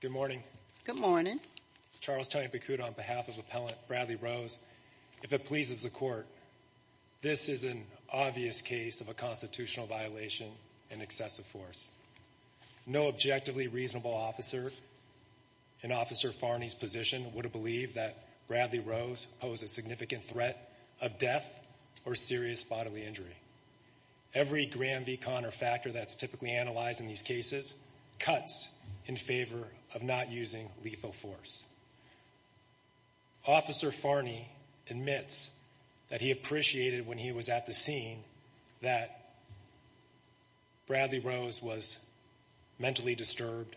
Good morning. Good morning. Charles Tony Bakuda on behalf of appellant Bradley Rose, if it pleases the court, this is an obvious case of a constitutional violation and excessive force. No objectively reasonable officer in Officer Farney's position would have believed that Bradley Rose posed a significant threat of death or serious bodily injury. Every Graham v. Conner factor that's typically analyzed in these cases cuts in favor of not using lethal force. Officer Farney admits that he appreciated when he was at the scene that Bradley Rose was mentally disturbed,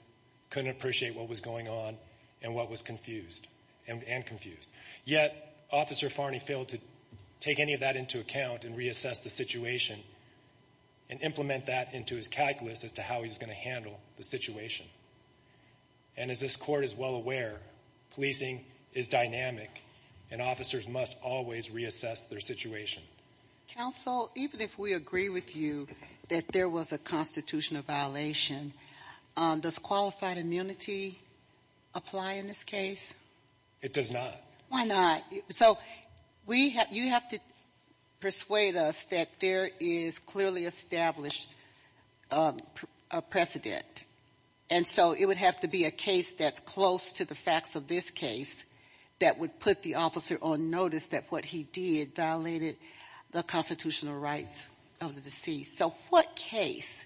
couldn't appreciate what was going on and what was confused, and confused. Yet Officer Farney failed to take any of that into account and reassess the situation and implement that into his calculus as to how he was going to handle the situation. And as this court is well aware, policing is dynamic and officers must always reassess their situation. Counsel, even if we agree with you that there was a constitutional violation, does qualified immunity apply in this case? It does not. Why not? So you have to persuade us that there is clearly established a precedent. And so it would have to be a case that's close to the facts of this case that would put the officer on notice that what he did violated the constitutional rights of the deceased. So what case,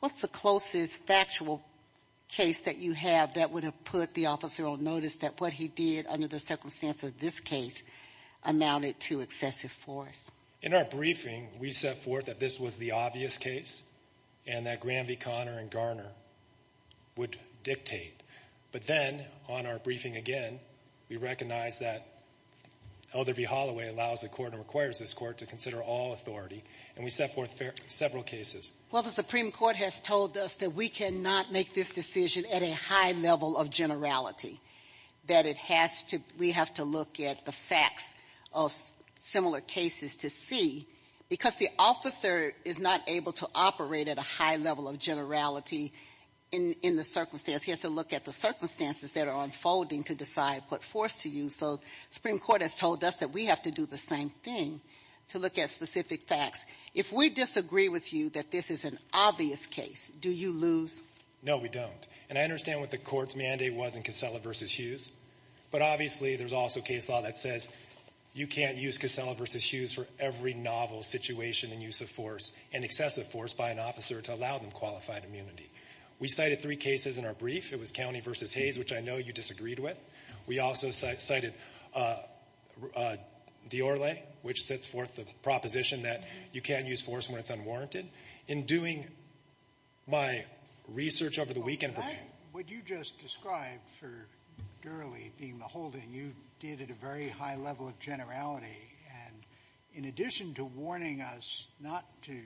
what's the closest factual case that you have that would have put the officer on notice that what he did under the circumstance of this case amounted to excessive force? In our briefing, we set forth that this was the obvious case and that Graham v. Conner and Garner would dictate. But then on our briefing again, we recognized that Elder v. Holloway allows the Court and requires this Court to consider all authority. And we set forth several cases. Well, the Supreme Court has told us that we cannot make this decision at a high level of generality, that it has to, we have to look at the facts of similar cases to see because the officer is not able to operate at a high level of generality in the circumstance. He has to look at the circumstances that are unfolding to decide what force to use. So Supreme Court has told us that we have to do the same thing to look at specific facts. If we disagree with you that this is an obvious case, do you lose? No, we don't. And I understand what the Court's mandate was in Casella v. Hughes. But obviously, there's also case law that says you can't use Casella v. Hughes for every novel situation in use of force and excessive force by an officer to allow them qualified immunity. We cited three cases in our brief. It was County v. Hayes, which I know you disagreed with. We also cited Diorle, which sets forth the proposition that you can't use force when it's unwarranted. In doing my research over the weekend of the case of Diorle v. Hughes, I think that's what you just described for Diorle being the holding. You did it at a very high level of generality. And in addition to warning us not to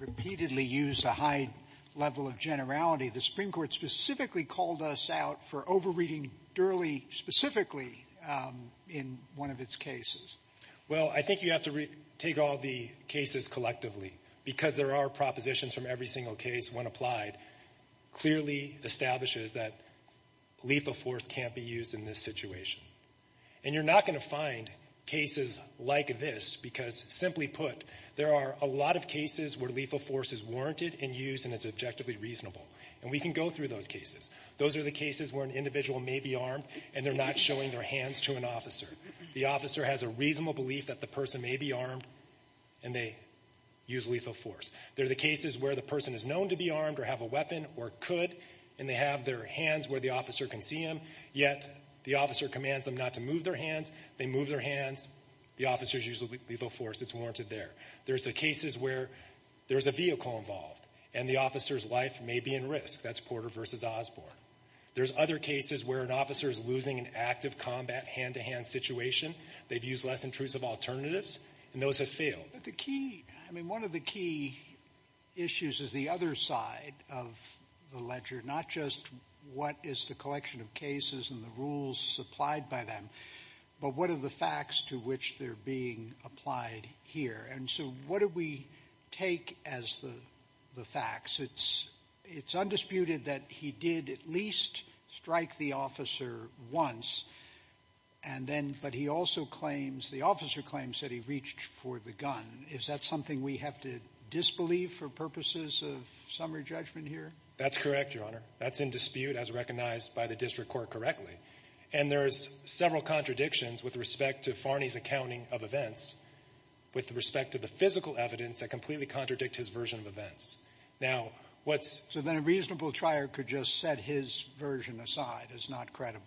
repeatedly use a high level of generality, the Supreme Court specifically called us out for over-reading Diorle specifically in one of its cases. Well, I think you have to take all the cases collectively because there are propositions from every single case when applied clearly establishes that lethal force can't be used in this situation. And you're not going to find cases like this because, simply put, there are a lot of cases where lethal force is warranted and used and it's objectively reasonable. And we can go through those cases. Those are the cases where an individual may be armed and they're not showing their hands to an officer. The officer has a reasonable belief that the person may be armed and they use lethal force. There are the cases where the person is known to be armed or have a weapon or could, and they have their hands where the officer can see them, yet the officer commands them not to move their hands. They move their hands. The officer uses lethal force. It's warranted there. There's the cases where there's a vehicle involved and the officer's life may be in risk. That's Porter v. Osborne. There's other cases where an officer is losing an active combat hand-to-hand situation. They've used less intrusive alternatives, and those have failed. But the key, I mean, one of the key issues is the other side of the ledger, not just what is the collection of cases and the rules supplied by them, but what are the facts to which they're being applied here? And so what do we take as the facts? It's undisputed that he did at least strike the officer once, and then, but he also claims, the officer claims that he reached for the gun. Is that something we have to disbelieve for purposes of summary judgment here? That's correct, Your Honor. That's in dispute as recognized by the district court correctly. And there's several contradictions with respect to Farney's accounting of events with respect to the physical evidence that completely contradict his version of events. Now, what's So then a reasonable trier could just set his version aside as not credible.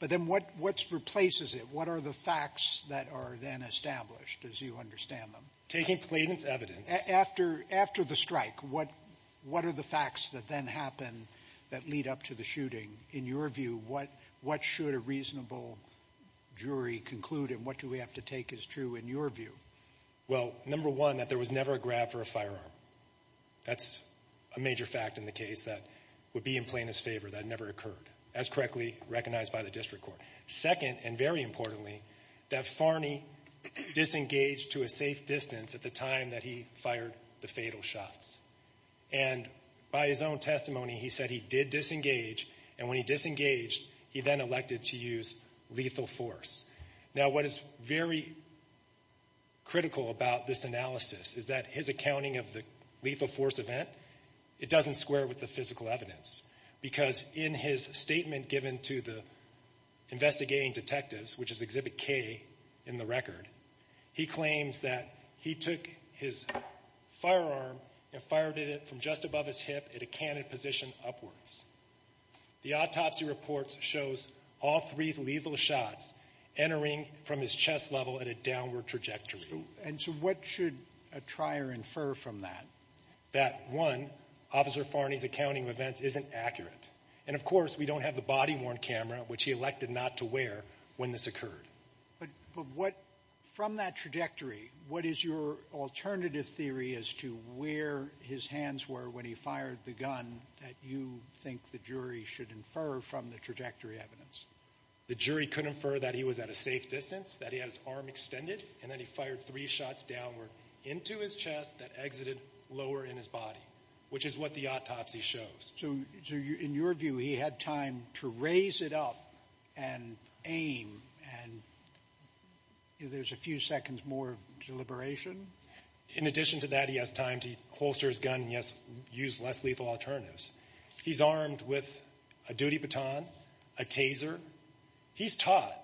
But then what replaces it? What are the facts that are then established, as you understand them? Taking plaintiff's evidence After the strike, what are the facts that then happen that lead up to the shooting? In your view, what should a reasonable jury conclude, and what do we have to take as true in your view? Well, number one, that there was never a grab for a firearm. That's a major fact in the case that would be in plaintiff's favor. That never occurred, as correctly recognized by the district court. Second, and very importantly, that Farney disengaged to a safe distance at the time that he fired the fatal shots. And by his own testimony, he said he did disengage, and when he disengaged, he then elected to use lethal force. Now, what is very critical about this analysis is that his accounting of the lethal force event, it doesn't square with the physical evidence. Because in his statement given to the investigating detectives, which is Exhibit K in the record, he claims that he took his firearm and fired it from just above his hip at a cannon position upwards. The autopsy report shows all three lethal shots entering from his chest level at a downward trajectory. And so what should a trier infer from that? That one, Officer Farney's accounting of events isn't accurate. And of course, we don't have the body-worn camera, which he elected not to wear, when this occurred. But what, from that trajectory, what is your alternative theory as to where his hands were when he fired the gun that you think the jury should infer from the trajectory evidence? The jury could infer that he was at a safe distance, that he had his arm extended, and that he fired three shots downward into his chest that exited lower in his body, which is what the autopsy shows. So in your view, he had time to raise it up and aim, and there's a few seconds more deliberation? In addition to that, he has time to holster his gun and, yes, use less lethal alternatives. He's armed with a duty baton, a taser. He's taught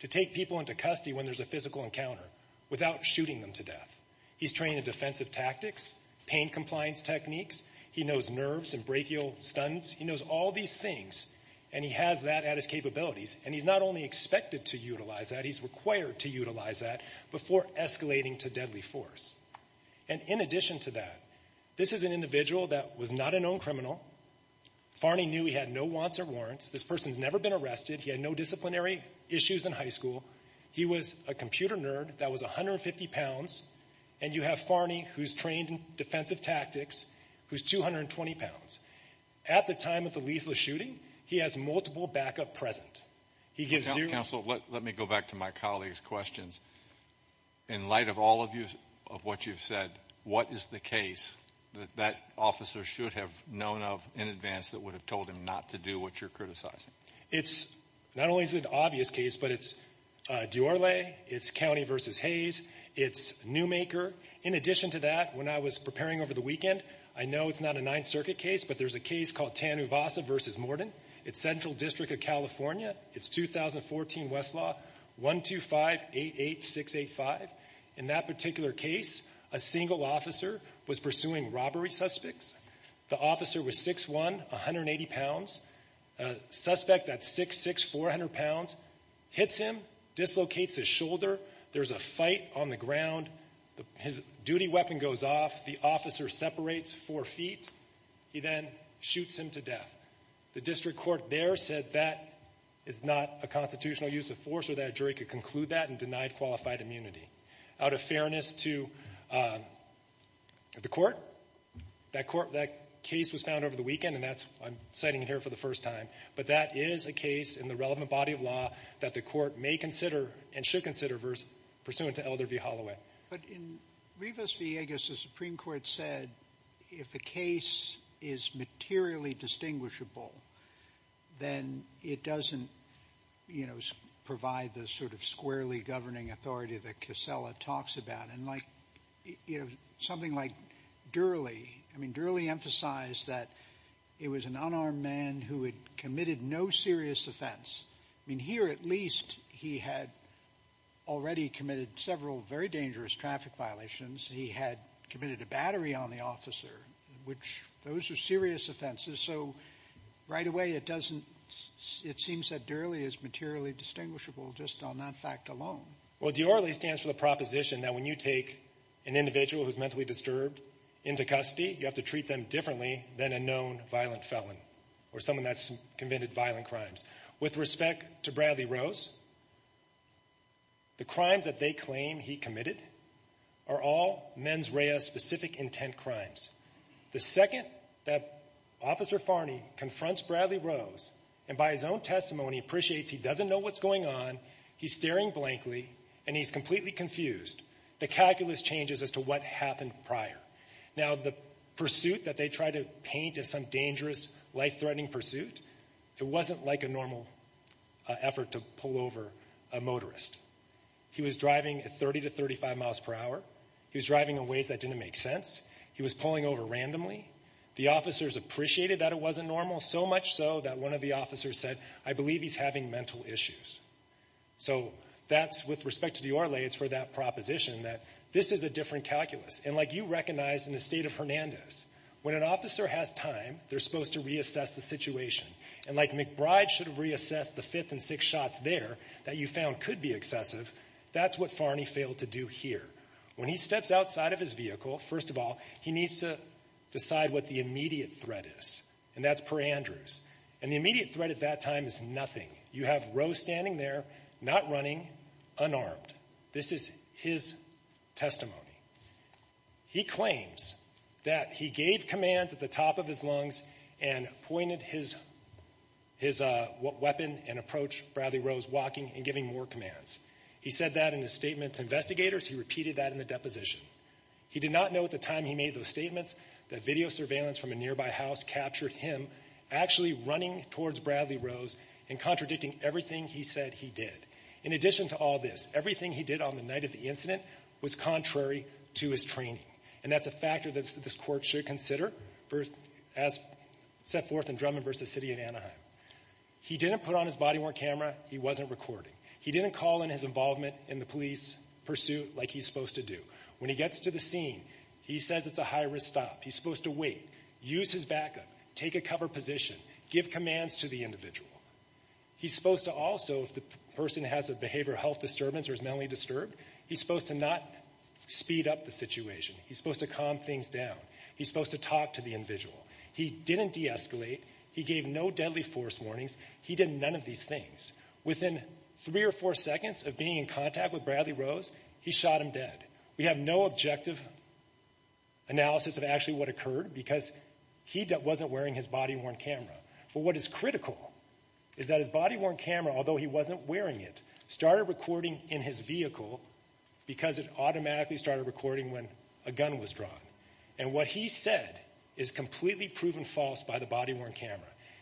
to take people into custody when there's a physical encounter without shooting them to death. He's trained in defensive tactics, pain compliance techniques. He knows nerves and brachial stunts. He knows all these things, and he has that at his capabilities. And he's not only expected to utilize that, he's required to utilize that before escalating to deadly force. And in addition to that, this is an individual that was not a known criminal. Farney knew he had no wants or warrants. This person's never been arrested. He had no disciplinary issues in high school. He was a computer nerd that was 150 pounds, and you have Farney, who's trained in defensive tactics, who's 220 pounds. At the time of the lethal shooting, he has multiple backup present. He gives zero... Counsel, let me go back to my colleague's questions. In light of all of what you've said, what is the case that that officer should have known of in advance that would have told him not to do what you're criticizing? It's not only an obvious case, but it's Duorle, it's County v. Hayes, it's Newmaker. In addition to that, when I was preparing over the weekend, I know it's not a Ninth Circuit case, but there's a case called Tanuvasa v. Morden. It's Central District of California. It's 2014 Westlaw 12588685. In that particular case, a single officer was pursuing robbery suspects. The officer was 6'1", 180 pounds. A suspect that's 6'6", 400 pounds, hits him, dislocates his shoulder. There's a fight on the ground. His duty weapon goes off. The officer separates four feet. He then shoots him to death. The district court there said that is not a constitutional use of force or that a jury could conclude that and denied qualified immunity. Out of fairness to the court, that case was found over the weekend, and that's why I'm citing it here for the first time. But that is a case in the relevant body of law that the court may consider and should consider pursuant to Elder v. Holloway. But in Rivas-Villegas, the Supreme Court said if the case is materially distinguishable, then it doesn't provide the sort of squarely governing authority that Casella talks about. And something like Durley, I mean, Durley emphasized that it was an unarmed man who had committed no serious offense. I mean, here, at least, he had already committed several very dangerous traffic violations. He had committed a battery on the officer, which, those are serious offenses. So right away, it seems that Durley is materially distinguishable, just on that fact alone. Well, Durley stands for the proposition that when you take an individual who's mentally disturbed into custody, you have to treat them differently than a known violent felon or someone that's committed violent crimes. With respect to Bradley Rose, the crimes that they claim he committed are all mens rea specific intent crimes. The second that Officer Farney confronts Bradley Rose, and by his own testimony, appreciates he doesn't know what's going on, he's staring blankly, and he's completely confused. The calculus changes as to what happened prior. Now, the pursuit that they try to paint as some dangerous, life-threatening pursuit, it wasn't like a normal effort to pull over a motorist. He was driving at 30 to 35 miles per hour. He was driving in ways that didn't make sense. He was pulling over randomly. The officers appreciated that it wasn't normal, so much so that one of the officers said, I believe he's having mental issues. So that's, with respect to Durley, it's for that proposition that this is a different calculus. And like you recognize in the state of Hernandez, when an officer has time, they're supposed to reassess the situation. And like McBride should have reassessed the fifth and sixth shots there, that you found could be excessive, that's what Farney failed to do here. When he steps outside of his vehicle, first of all, he needs to decide what the immediate threat is, and that's Per Andrews. And the immediate threat at that time is nothing. You have Rose standing there, not running, unarmed. This is his testimony. He claims that he gave commands at the top of his lungs and pointed his weapon and approached Bradley Rose walking and giving more commands. He said that in a statement to investigators, he repeated that in the deposition. He did not know at the time he made those statements that video surveillance from a nearby house captured him actually running towards Bradley Rose and contradicting everything he said he did. In addition to all this, everything he did on the night of the incident was contrary to his training. And that's a factor that this court should consider as set forth in Drummond v. City of Anaheim. He didn't put on his body-worn camera, he wasn't recording. He didn't call in his involvement in the police pursuit like he's supposed to do. When he gets to the scene, he says it's a high-risk stop. He's supposed to wait, use his backup, take a cover position, give commands to the individual. He's supposed to also, if the person has a behavioral health disturbance or is mentally disturbed, he's supposed to not speed up the situation. He's supposed to calm things down. He's supposed to talk to the individual. He didn't de-escalate. He gave no deadly force warnings. He did none of these things. Within three or four seconds of being in contact with Bradley Rose, he shot him dead. We have no objective analysis of actually what occurred because he wasn't wearing his body-worn camera. But what is critical is that his body-worn camera, although he wasn't wearing it, started recording in his vehicle because it automatically started recording when a gun was drawn. And what he said is completely proven false by the body-worn camera.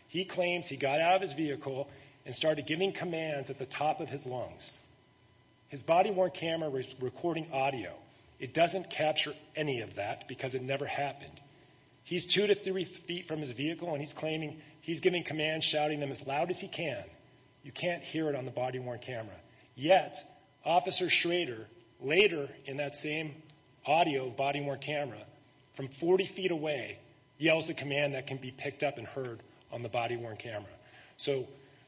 He claims he got out of his vehicle and started giving commands at the top of his lungs. His body-worn camera was recording audio. It doesn't capture any of that because it never happened. He's two to three feet from his vehicle and he's giving commands, shouting them as loud as he can. You can't hear it on the body-worn camera. Yet, Officer Schrader, later in that same audio of body-worn camera, from 40 feet away, yells a command that can be picked up and heard on the body-worn camera. So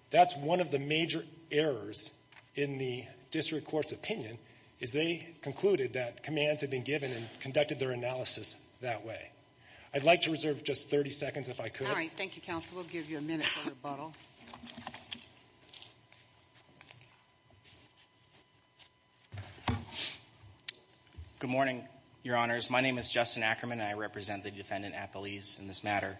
that's one of the major errors in the district court's opinion, is they concluded that commands had been given and conducted their analysis that way. I'd like to reserve just 30 seconds if I could. All right, thank you, counsel. We'll give you a minute for rebuttal. Good morning, your honors. My name is Justin Ackerman, and I represent the defendant, Appalese, in this matter.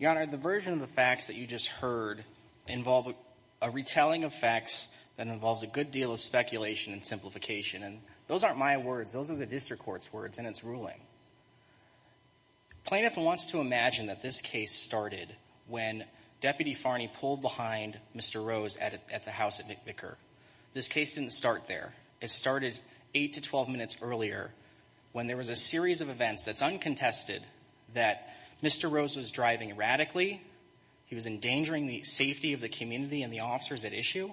Your honor, the version of the facts that you just heard involve a retelling of facts that involves a good deal of speculation and simplification. And those aren't my words. Those are the district court's words and its ruling. Plaintiff wants to imagine that this case started when Deputy Farney pulled behind Mr. Rose at the house at McVicar. This case didn't start there. It started eight to 12 minutes earlier when there was a series of events that's uncontested that Mr. Rose was driving erratically. He was endangering the safety of the community and the officers at issue.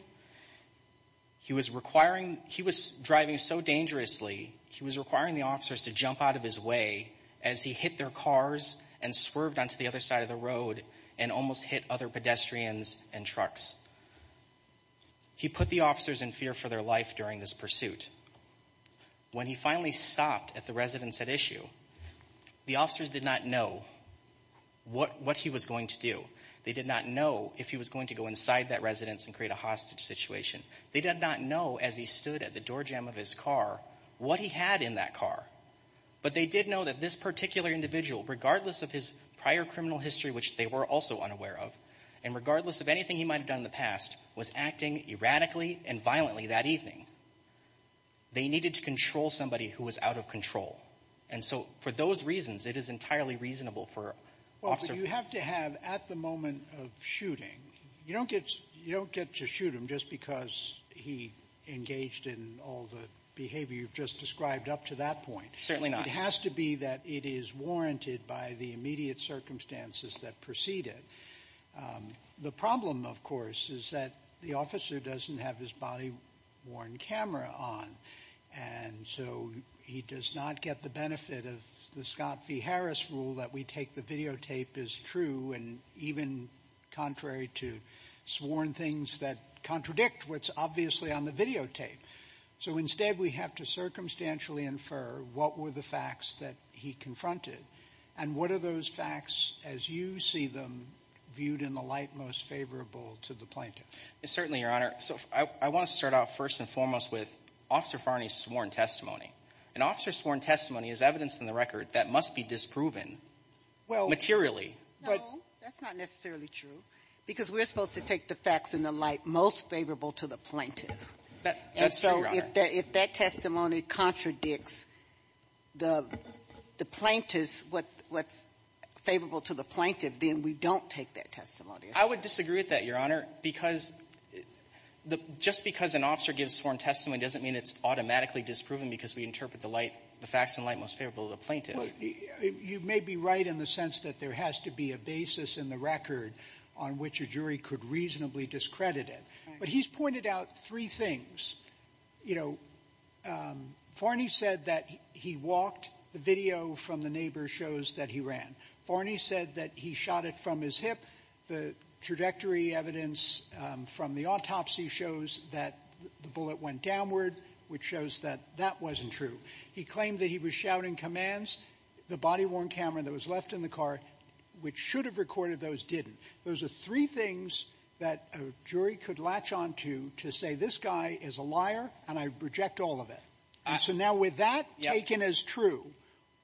He was requiring, he was driving so dangerously, he was requiring the officers to jump out of his way as he hit their cars and swerved onto the other side of the road and almost hit other pedestrians and trucks. He put the officers in fear for their life during this pursuit. When he finally stopped at the residence at issue, the officers did not know what he was going to do. They did not know if he was going to go inside that residence and create a hostage. Situation. They did not know as he stood at the door jam of his car what he had in that car. But they did know that this particular individual, regardless of his prior criminal history, which they were also unaware of. And regardless of anything he might have done in the past, was acting erratically and violently that evening. They needed to control somebody who was out of control. And so for those reasons, it is entirely reasonable for officer. You have to have at the moment of shooting, you don't get to shoot him just because he engaged in all the behavior you've just described up to that point. Certainly not. It has to be that it is warranted by the immediate circumstances that preceded. The problem, of course, is that the officer doesn't have his body worn camera on. And so he does not get the benefit of the Scott v. Harris rule that we take the videotape as true and even contrary to sworn things that contradict what's obviously on the videotape. So instead, we have to circumstantially infer what were the facts that he confronted. And what are those facts as you see them viewed in the light most favorable to the plaintiff? Certainly, Your Honor. So I want to start off first and foremost with Officer Farney's sworn testimony. An officer's sworn testimony is evidence in the record that must be disproven materially. Well, no, that's not necessarily true, because we're supposed to take the facts in the light most favorable to the plaintiff. And so if that testimony contradicts the plaintiff's, what's favorable to the plaintiff, then we don't take that testimony. I would disagree with that, Your Honor, because just because an officer gives sworn testimony doesn't mean it's automatically disproven because we interpret the facts in light most favorable to the plaintiff. You may be right in the sense that there has to be a basis in the record on which a jury could reasonably discredit it. But he's pointed out three things. You know, Farney said that he walked. The video from the neighbor shows that he ran. Farney said that he shot it from his hip. The trajectory evidence from the autopsy shows that the bullet went downward, which shows that that wasn't true. He claimed that he was shouting commands. The body-worn camera that was left in the car, which should have recorded those, didn't. Those are three things that a jury could latch on to to say this guy is a liar, and I reject all of it. And so now with that taken as true,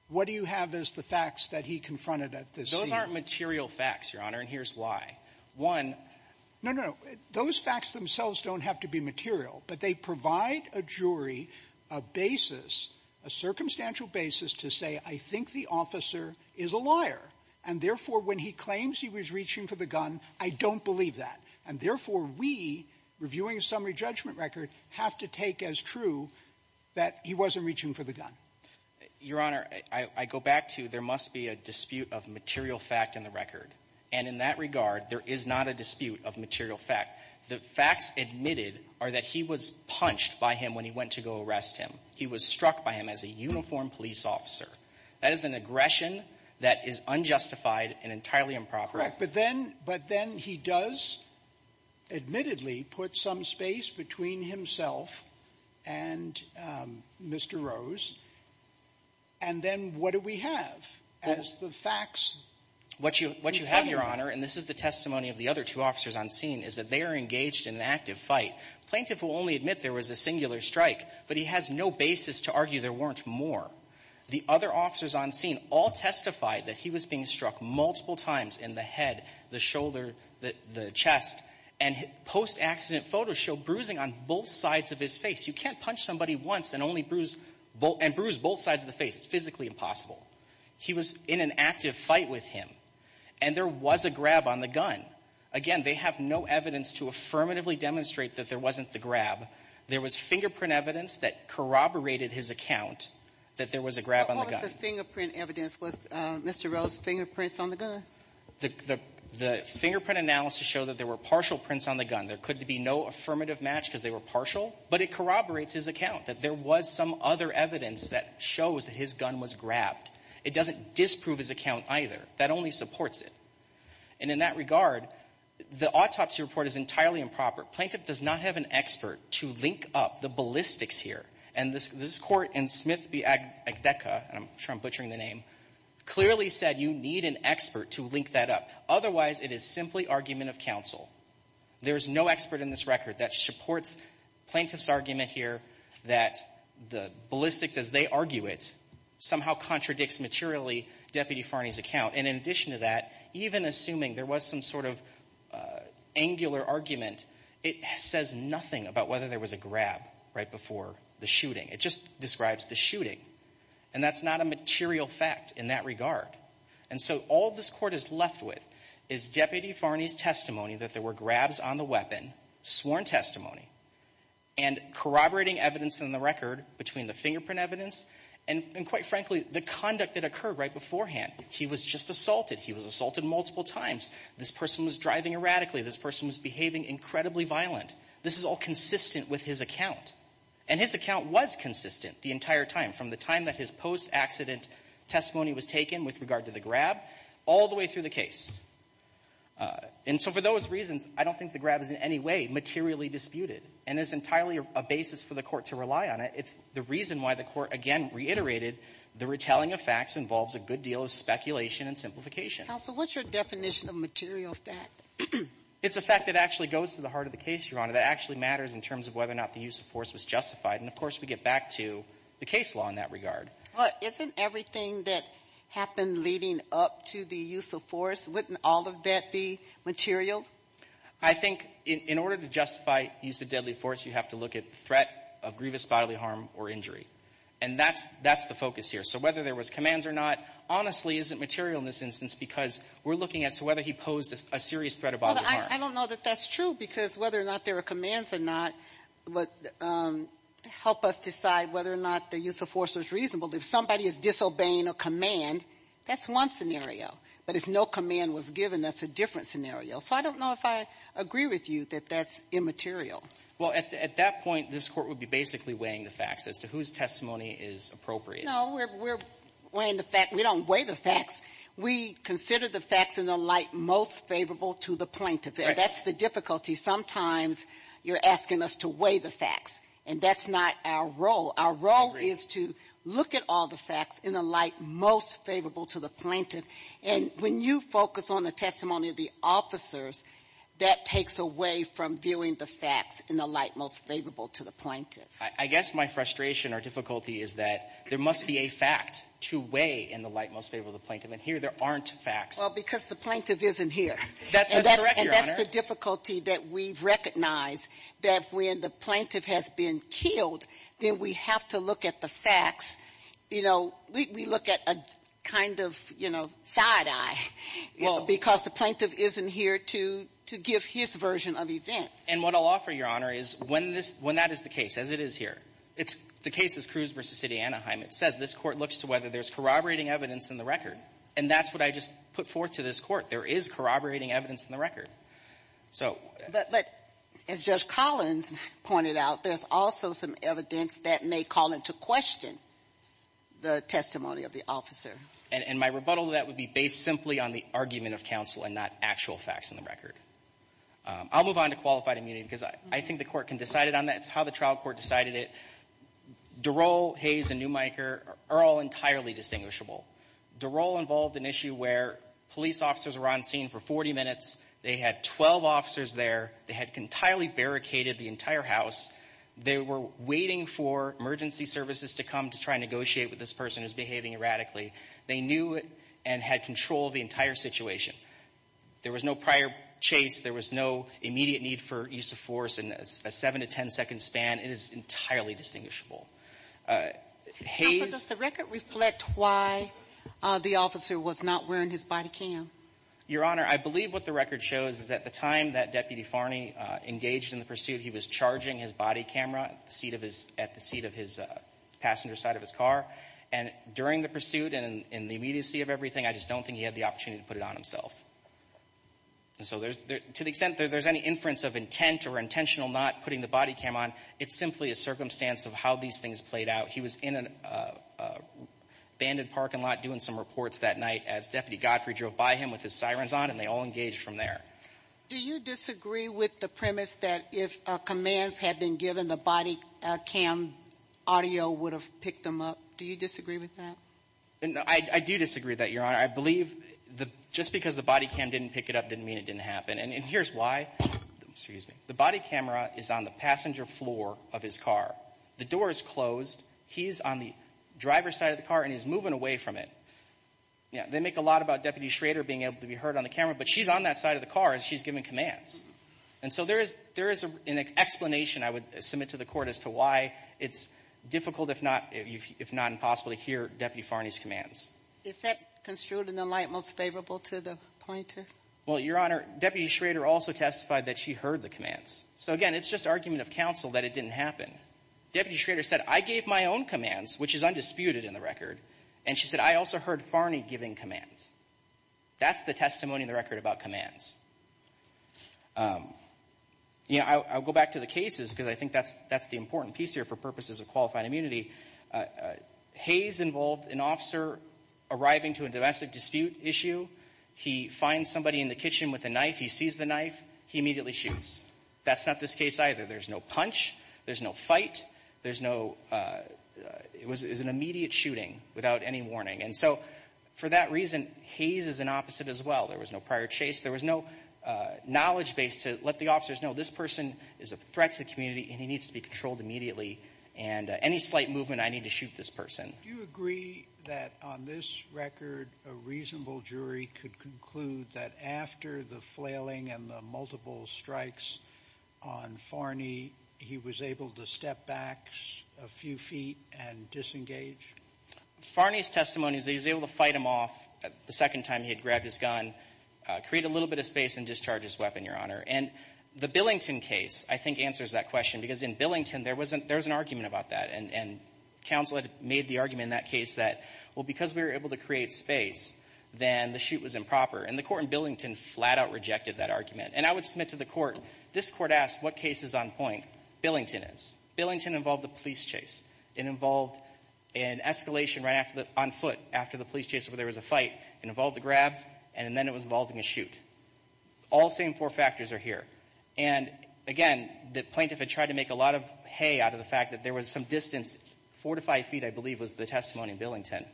what do you have as the facts that he confronted at the scene? They aren't material facts, Your Honor, and here's why. One… No, no, no. Those facts themselves don't have to be material, but they provide a jury a basis, a circumstantial basis to say I think the officer is a liar, and therefore, when he claims he was reaching for the gun, I don't believe that. And therefore, we, reviewing a summary judgment record, have to take as true that he wasn't reaching for the gun. Your Honor, I go back to there must be a dispute of material fact in the record. And in that regard, there is not a dispute of material fact. The facts admitted are that he was punched by him when he went to go arrest him. He was struck by him as a uniformed police officer. That is an aggression that is unjustified and entirely improper. Correct. But then he does admittedly put some space between himself and Mr. Rose. And then what do we have as the facts? What you have, Your Honor, and this is the testimony of the other two officers on scene, is that they are engaged in an active fight. Plaintiff will only admit there was a singular strike, but he has no basis to argue there weren't more. The other officers on scene all testified that he was being struck multiple times in the head, the shoulder, the chest, and post-accident photos show bruising on both sides of his face. You can't punch somebody once and only bruise both sides of the face. It's physically impossible. He was in an active fight with him, and there was a grab on the gun. Again, they have no evidence to affirmatively demonstrate that there wasn't the grab. There was fingerprint evidence that corroborated his account that there was a grab on the gun. What was the fingerprint evidence? Was Mr. Rose's fingerprints on the gun? The fingerprint analysis showed that there were partial prints on the gun. There could be no affirmative match because they were partial. But it corroborates his account that there was some other evidence that shows that his gun was grabbed. It doesn't disprove his account either. That only supports it. And in that regard, the autopsy report is entirely improper. Plaintiff does not have an expert to link up the ballistics here. And this Court in Smith v. Agdeka, and I'm sure I'm butchering the name, clearly said you need an expert to link that up. Otherwise, it is simply argument of counsel. There is no expert in this record that supports plaintiff's argument here that the ballistics as they argue it somehow contradicts materially Deputy Farney's account. And in addition to that, even assuming there was some sort of angular argument, it says nothing about whether there was a grab right before the shooting. It just describes the shooting. And that's not a material fact in that regard. And so all this Court is left with is Deputy Farney's testimony that there were grabs on the weapon, sworn testimony, and corroborating evidence in the record between the fingerprint evidence and, quite frankly, the conduct that occurred right beforehand. He was just assaulted. He was assaulted multiple times. This person was driving erratically. This person was behaving incredibly violent. This is all consistent with his account. And his account was consistent the entire time, from the time that his post-accident testimony was taken with regard to the grab all the way through the case. And so for those reasons, I don't think the grab is in any way materially disputed and is entirely a basis for the Court to rely on it. It's the reason why the Court, again, reiterated the retelling of facts involves a good deal of speculation and simplification. Sotomayor, what's your definition of material fact? It's a fact that actually goes to the heart of the case, Your Honor, that actually matters in terms of whether or not the use of force was justified. And, of course, we get back to the case law in that regard. Well, isn't everything that happened leading up to the use of force, wouldn't all of that be material? I think in order to justify use of deadly force, you have to look at threat of grievous bodily harm or injury. And that's the focus here. So whether there was commands or not honestly isn't material in this instance because we're looking at so whether he posed a serious threat of bodily harm. I don't know that that's true because whether or not there were commands or not would help us decide whether or not the use of force was reasonable. If somebody is disobeying a command, that's one scenario. But if no command was given, that's a different scenario. So I don't know if I agree with you that that's immaterial. Well, at that point, this Court would be basically weighing the facts as to whose testimony is appropriate. No, we're weighing the facts. We don't weigh the facts. We consider the facts in the light most favorable to the plaintiff. That's the difficulty. Sometimes you're asking us to weigh the facts, and that's not our role. Our role is to look at all the facts in the light most favorable to the plaintiff. And when you focus on the testimony of the officers, that takes away from viewing the facts in the light most favorable to the plaintiff. I guess my frustration or difficulty is that there must be a fact to weigh in the light most favorable to the plaintiff, and here there aren't facts. Well, because the plaintiff isn't here. That's correct, Your Honor. And that's the difficulty that we've recognized, that when the plaintiff has been killed, then we have to look at the facts. You know, we look at a kind of, you know, side-eye, because the plaintiff isn't here to give his version of events. And what I'll offer, Your Honor, is when this — when that is the case, as it is here, it's — the case is Cruz v. City Anaheim. It says this Court looks to whether there's corroborating evidence in the record. And that's what I just put forth to this Court. There is corroborating evidence in the record. So — But as Judge Collins pointed out, there's also some evidence that may call into question the testimony of the officer. And my rebuttal to that would be based simply on the argument of counsel and not actual facts in the record. I'll move on to qualified immunity, because I think the Court can decide it on that. It's how the trial court decided it. DeRolle, Hayes, and Newmiker are all entirely distinguishable. DeRolle involved an issue where police officers were on scene for 40 minutes. They had 12 officers there. They had entirely barricaded the entire house. They were waiting for emergency services to come to try and negotiate with this person who's behaving erratically. They knew and had control of the entire situation. There was no prior chase. There was no immediate need for use of force in a 7- to 10-second span. It is entirely distinguishable. Hayes — The officer was not wearing his body cam. Your Honor, I believe what the record shows is at the time that Deputy Farney engaged in the pursuit, he was charging his body camera at the seat of his — at the seat of his passenger side of his car. And during the pursuit and in the immediacy of everything, I just don't think he had the opportunity to put it on himself. And so there's — to the extent that there's any inference of intent or intentional not putting the body cam on, it's simply a circumstance of how these things played out. He was in a banded parking lot doing some reports that night as Deputy Godfrey drove by him with his sirens on, and they all engaged from there. Do you disagree with the premise that if commands had been given, the body cam audio would have picked them up? Do you disagree with that? I do disagree with that, Your Honor. I believe just because the body cam didn't pick it up didn't mean it didn't happen. And here's why. Excuse me. The body camera is on the passenger floor of his car. The door is closed. He's on the driver's side of the car, and he's moving away from it. You know, they make a lot about Deputy Schrader being able to be heard on the camera, but she's on that side of the car as she's giving commands. And so there is — there is an explanation, I would submit to the Court, as to why it's difficult if not — if not impossible to hear Deputy Farney's commands. Is that construed in the light most favorable to the pointer? Well, Your Honor, Deputy Schrader also testified that she heard the commands. So again, it's just argument of counsel that it didn't happen. Deputy Schrader said, I gave my own commands, which is undisputed in the record. And she said, I also heard Farney giving commands. That's the testimony in the record about commands. You know, I'll go back to the cases, because I think that's the important piece here for purposes of qualified immunity. Hayes involved an officer arriving to a domestic dispute issue. He finds somebody in the kitchen with a knife. He sees the knife. He immediately shoots. That's not this case either. There's no punch. There's no fight. There's no — it was an immediate shooting without any warning. And so for that reason, Hayes is an opposite as well. There was no prior chase. There was no knowledge base to let the officers know, this person is a threat to the community and he needs to be controlled immediately. And any slight movement, I need to shoot this person. Do you agree that on this record, a reasonable jury could conclude that after the flailing and the multiple strikes on Farney, he was able to step back a few feet and disengage? Farney's testimony is that he was able to fight him off the second time he had grabbed his gun, create a little bit of space, and discharge his weapon, Your Honor. And the Billington case, I think, answers that question, because in Billington, there was an argument about that. And counsel had made the argument in that case that, well, because we were able to create space, then the shoot was improper. And the court in Billington flat out rejected that argument. And I would submit to the court, this court asked, what case is on point? Billington is. Billington involved a police chase. It involved an escalation right on foot after the police chase where there was a fight. It involved a grab, and then it was involving a shoot. All same four factors are here. And again, the plaintiff had tried to make a lot of hay out of the fact that there was some distance, four to five feet, I believe, was the testimony in Billington,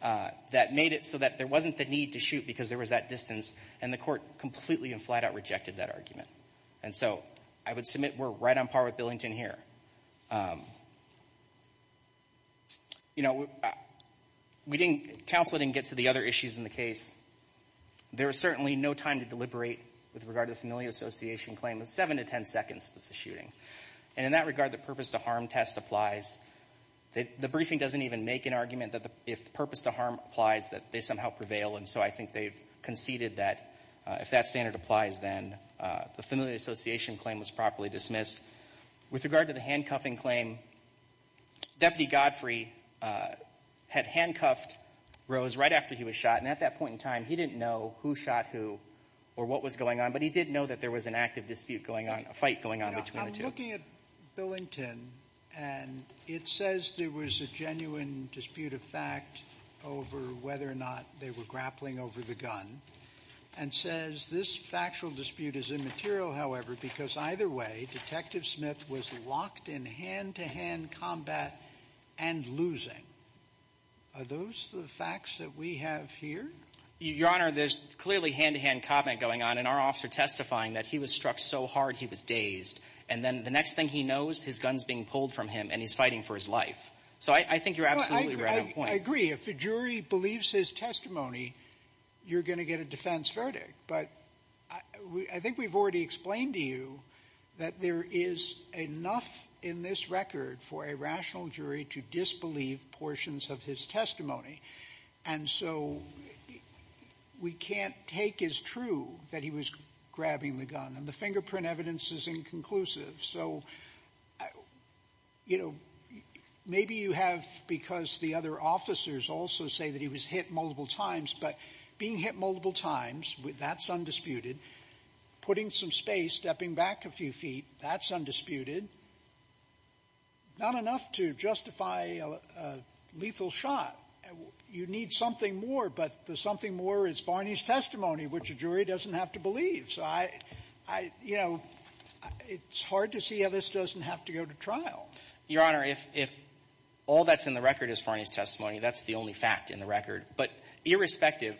that made it so that there wasn't the need to shoot because there was that distance, and the court completely and flat out rejected that argument. And so I would submit we're right on par with Billington here. You know, we didn't, counsel didn't get to the other issues in the case. There was certainly no time to deliberate with regard to the Familia Association claim of seven to ten seconds was the shooting. And in that regard, the purpose to harm test applies. The briefing doesn't even make an argument that if purpose to harm applies, that they somehow prevail. And so I think they've conceded that if that standard applies, then the Familia Association claim was properly dismissed. With regard to the handcuffing claim, Deputy Godfrey had handcuffed Rose right after he was shot. And at that point in time, he didn't know who shot who or what was going on. But he did know that there was an active dispute going on, a fight going on between the two. We're looking at Billington, and it says there was a genuine dispute of fact over whether or not they were grappling over the gun, and says this factual dispute is immaterial, however, because either way, Detective Smith was locked in hand-to-hand combat and losing. Are those the facts that we have here? Your Honor, there's clearly hand-to-hand combat going on, and our officer testifying that he was struck so hard he was dazed. And then the next thing he knows, his gun's being pulled from him, and he's fighting for his life. So I think you're absolutely right on point. Sotomayor, I agree. If a jury believes his testimony, you're going to get a defense verdict. But I think we've already explained to you that there is enough in this record for a rational jury to disbelieve portions of his testimony. And so we can't take as true that he was grabbing the gun. And the fingerprint evidence is inconclusive. So, you know, maybe you have, because the other officers also say that he was hit multiple times, but being hit multiple times, that's undisputed. Putting some space, stepping back a few feet, that's undisputed. Not enough to justify a lethal shot. You need something more, but the something more is Varney's testimony, which a jury doesn't have to believe. So I, you know, it's hard to see how this doesn't have to go to trial. Your Honor, if all that's in the record is Varney's testimony, that's the only fact in the record. But irrespective,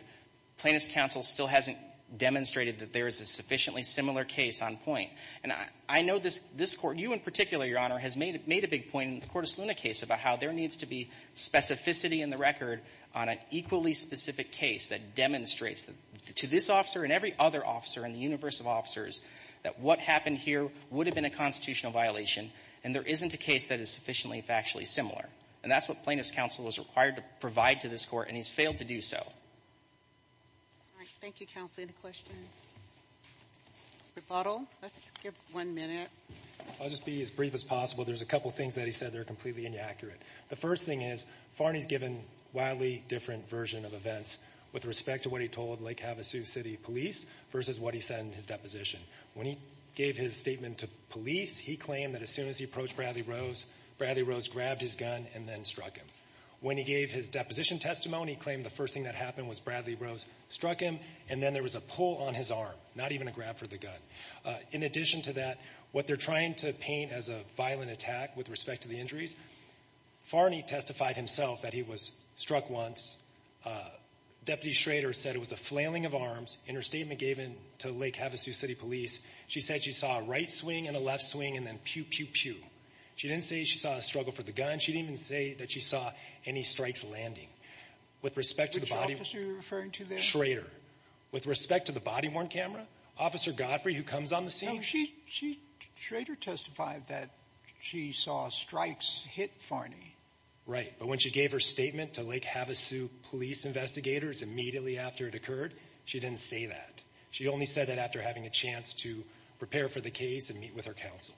Plaintiff's counsel still hasn't demonstrated that there is a sufficiently similar case on point. And I know this Court, you in particular, Your Honor, has made a big point in the Cortes Luna case about how there needs to be specificity in the record on an equally specific case that demonstrates to this officer and every other officer in the universe of officers that what happened here would have been a constitutional violation, and there isn't a case that is sufficiently factually similar. And that's what Plaintiff's counsel is required to provide to this Court, and he's failed to do so. All right. Thank you, Counsel. Any questions? Rebuttal? Let's give one minute. I'll just be as brief as possible. There's a couple things that he said that are completely inaccurate. The first thing is, Varney's given a wildly different version of events with respect to what he told Lake Havasu City Police versus what he said in his deposition. When he gave his statement to police, he claimed that as soon as he approached Bradley Rose, Bradley Rose grabbed his gun and then struck him. When he gave his deposition testimony, he claimed the first thing that happened was Bradley Rose struck him, and then there was a pull on his arm, not even a grab for the In addition to that, what they're trying to paint as a violent attack with respect to the injuries, Varney testified himself that he was struck once. Deputy Schrader said it was a flailing of arms. In her statement given to Lake Havasu City Police, she said she saw a right swing and a left swing and then pew, pew, pew. She didn't say she saw a struggle for the gun. She didn't even say that she saw any strikes landing. With respect to the body of the officer referring to there, Schrader, with respect to the body-worn camera, Officer Godfrey, who comes on the scene, she, she, Schrader testified that she saw strikes hit Varney. Right, but when she gave her statement to Lake Havasu Police investigators immediately after it occurred, she didn't say that. She only said that after having a chance to prepare for the case and meet with her counsel.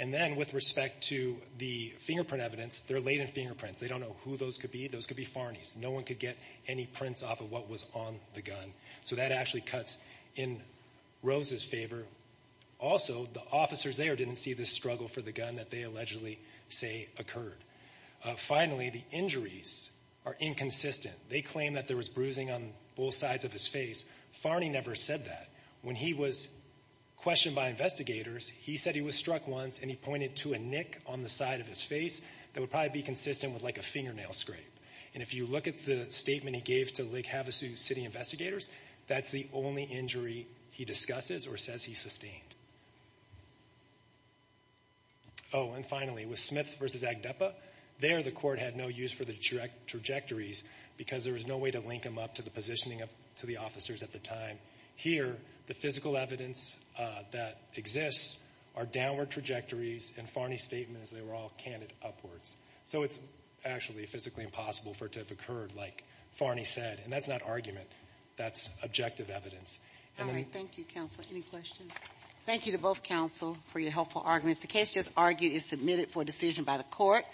And then, with respect to the fingerprint evidence, they're laden fingerprints. They don't know who those could be. Those could be Varney's. No one could get any prints off of what was on the gun. So that actually cuts in Rose's favor. Also, the officers there didn't see the struggle for the gun that they allegedly say occurred. Finally, the injuries are inconsistent. They claim that there was bruising on both sides of his face. Varney never said that. When he was questioned by investigators, he said he was struck once and he pointed to a nick on the side of his face that would probably be consistent with like a fingernail scrape. And if you look at the statement he gave to Lake Havasu City investigators, that's the only injury he discusses or says he sustained. And finally, with Smith versus Agdepa, there the court had no use for the trajectories because there was no way to link them up to the positioning of, to the officers at the time. Here, the physical evidence that exists are downward trajectories and Farney's statement is they were all candid upwards. So it's actually physically impossible for it to have occurred like Farney said. And that's not argument. That's objective evidence. And then- All right, thank you, counsel. Any questions? Thank you to both counsel for your helpful arguments. The case just argued is submitted for decision by the court.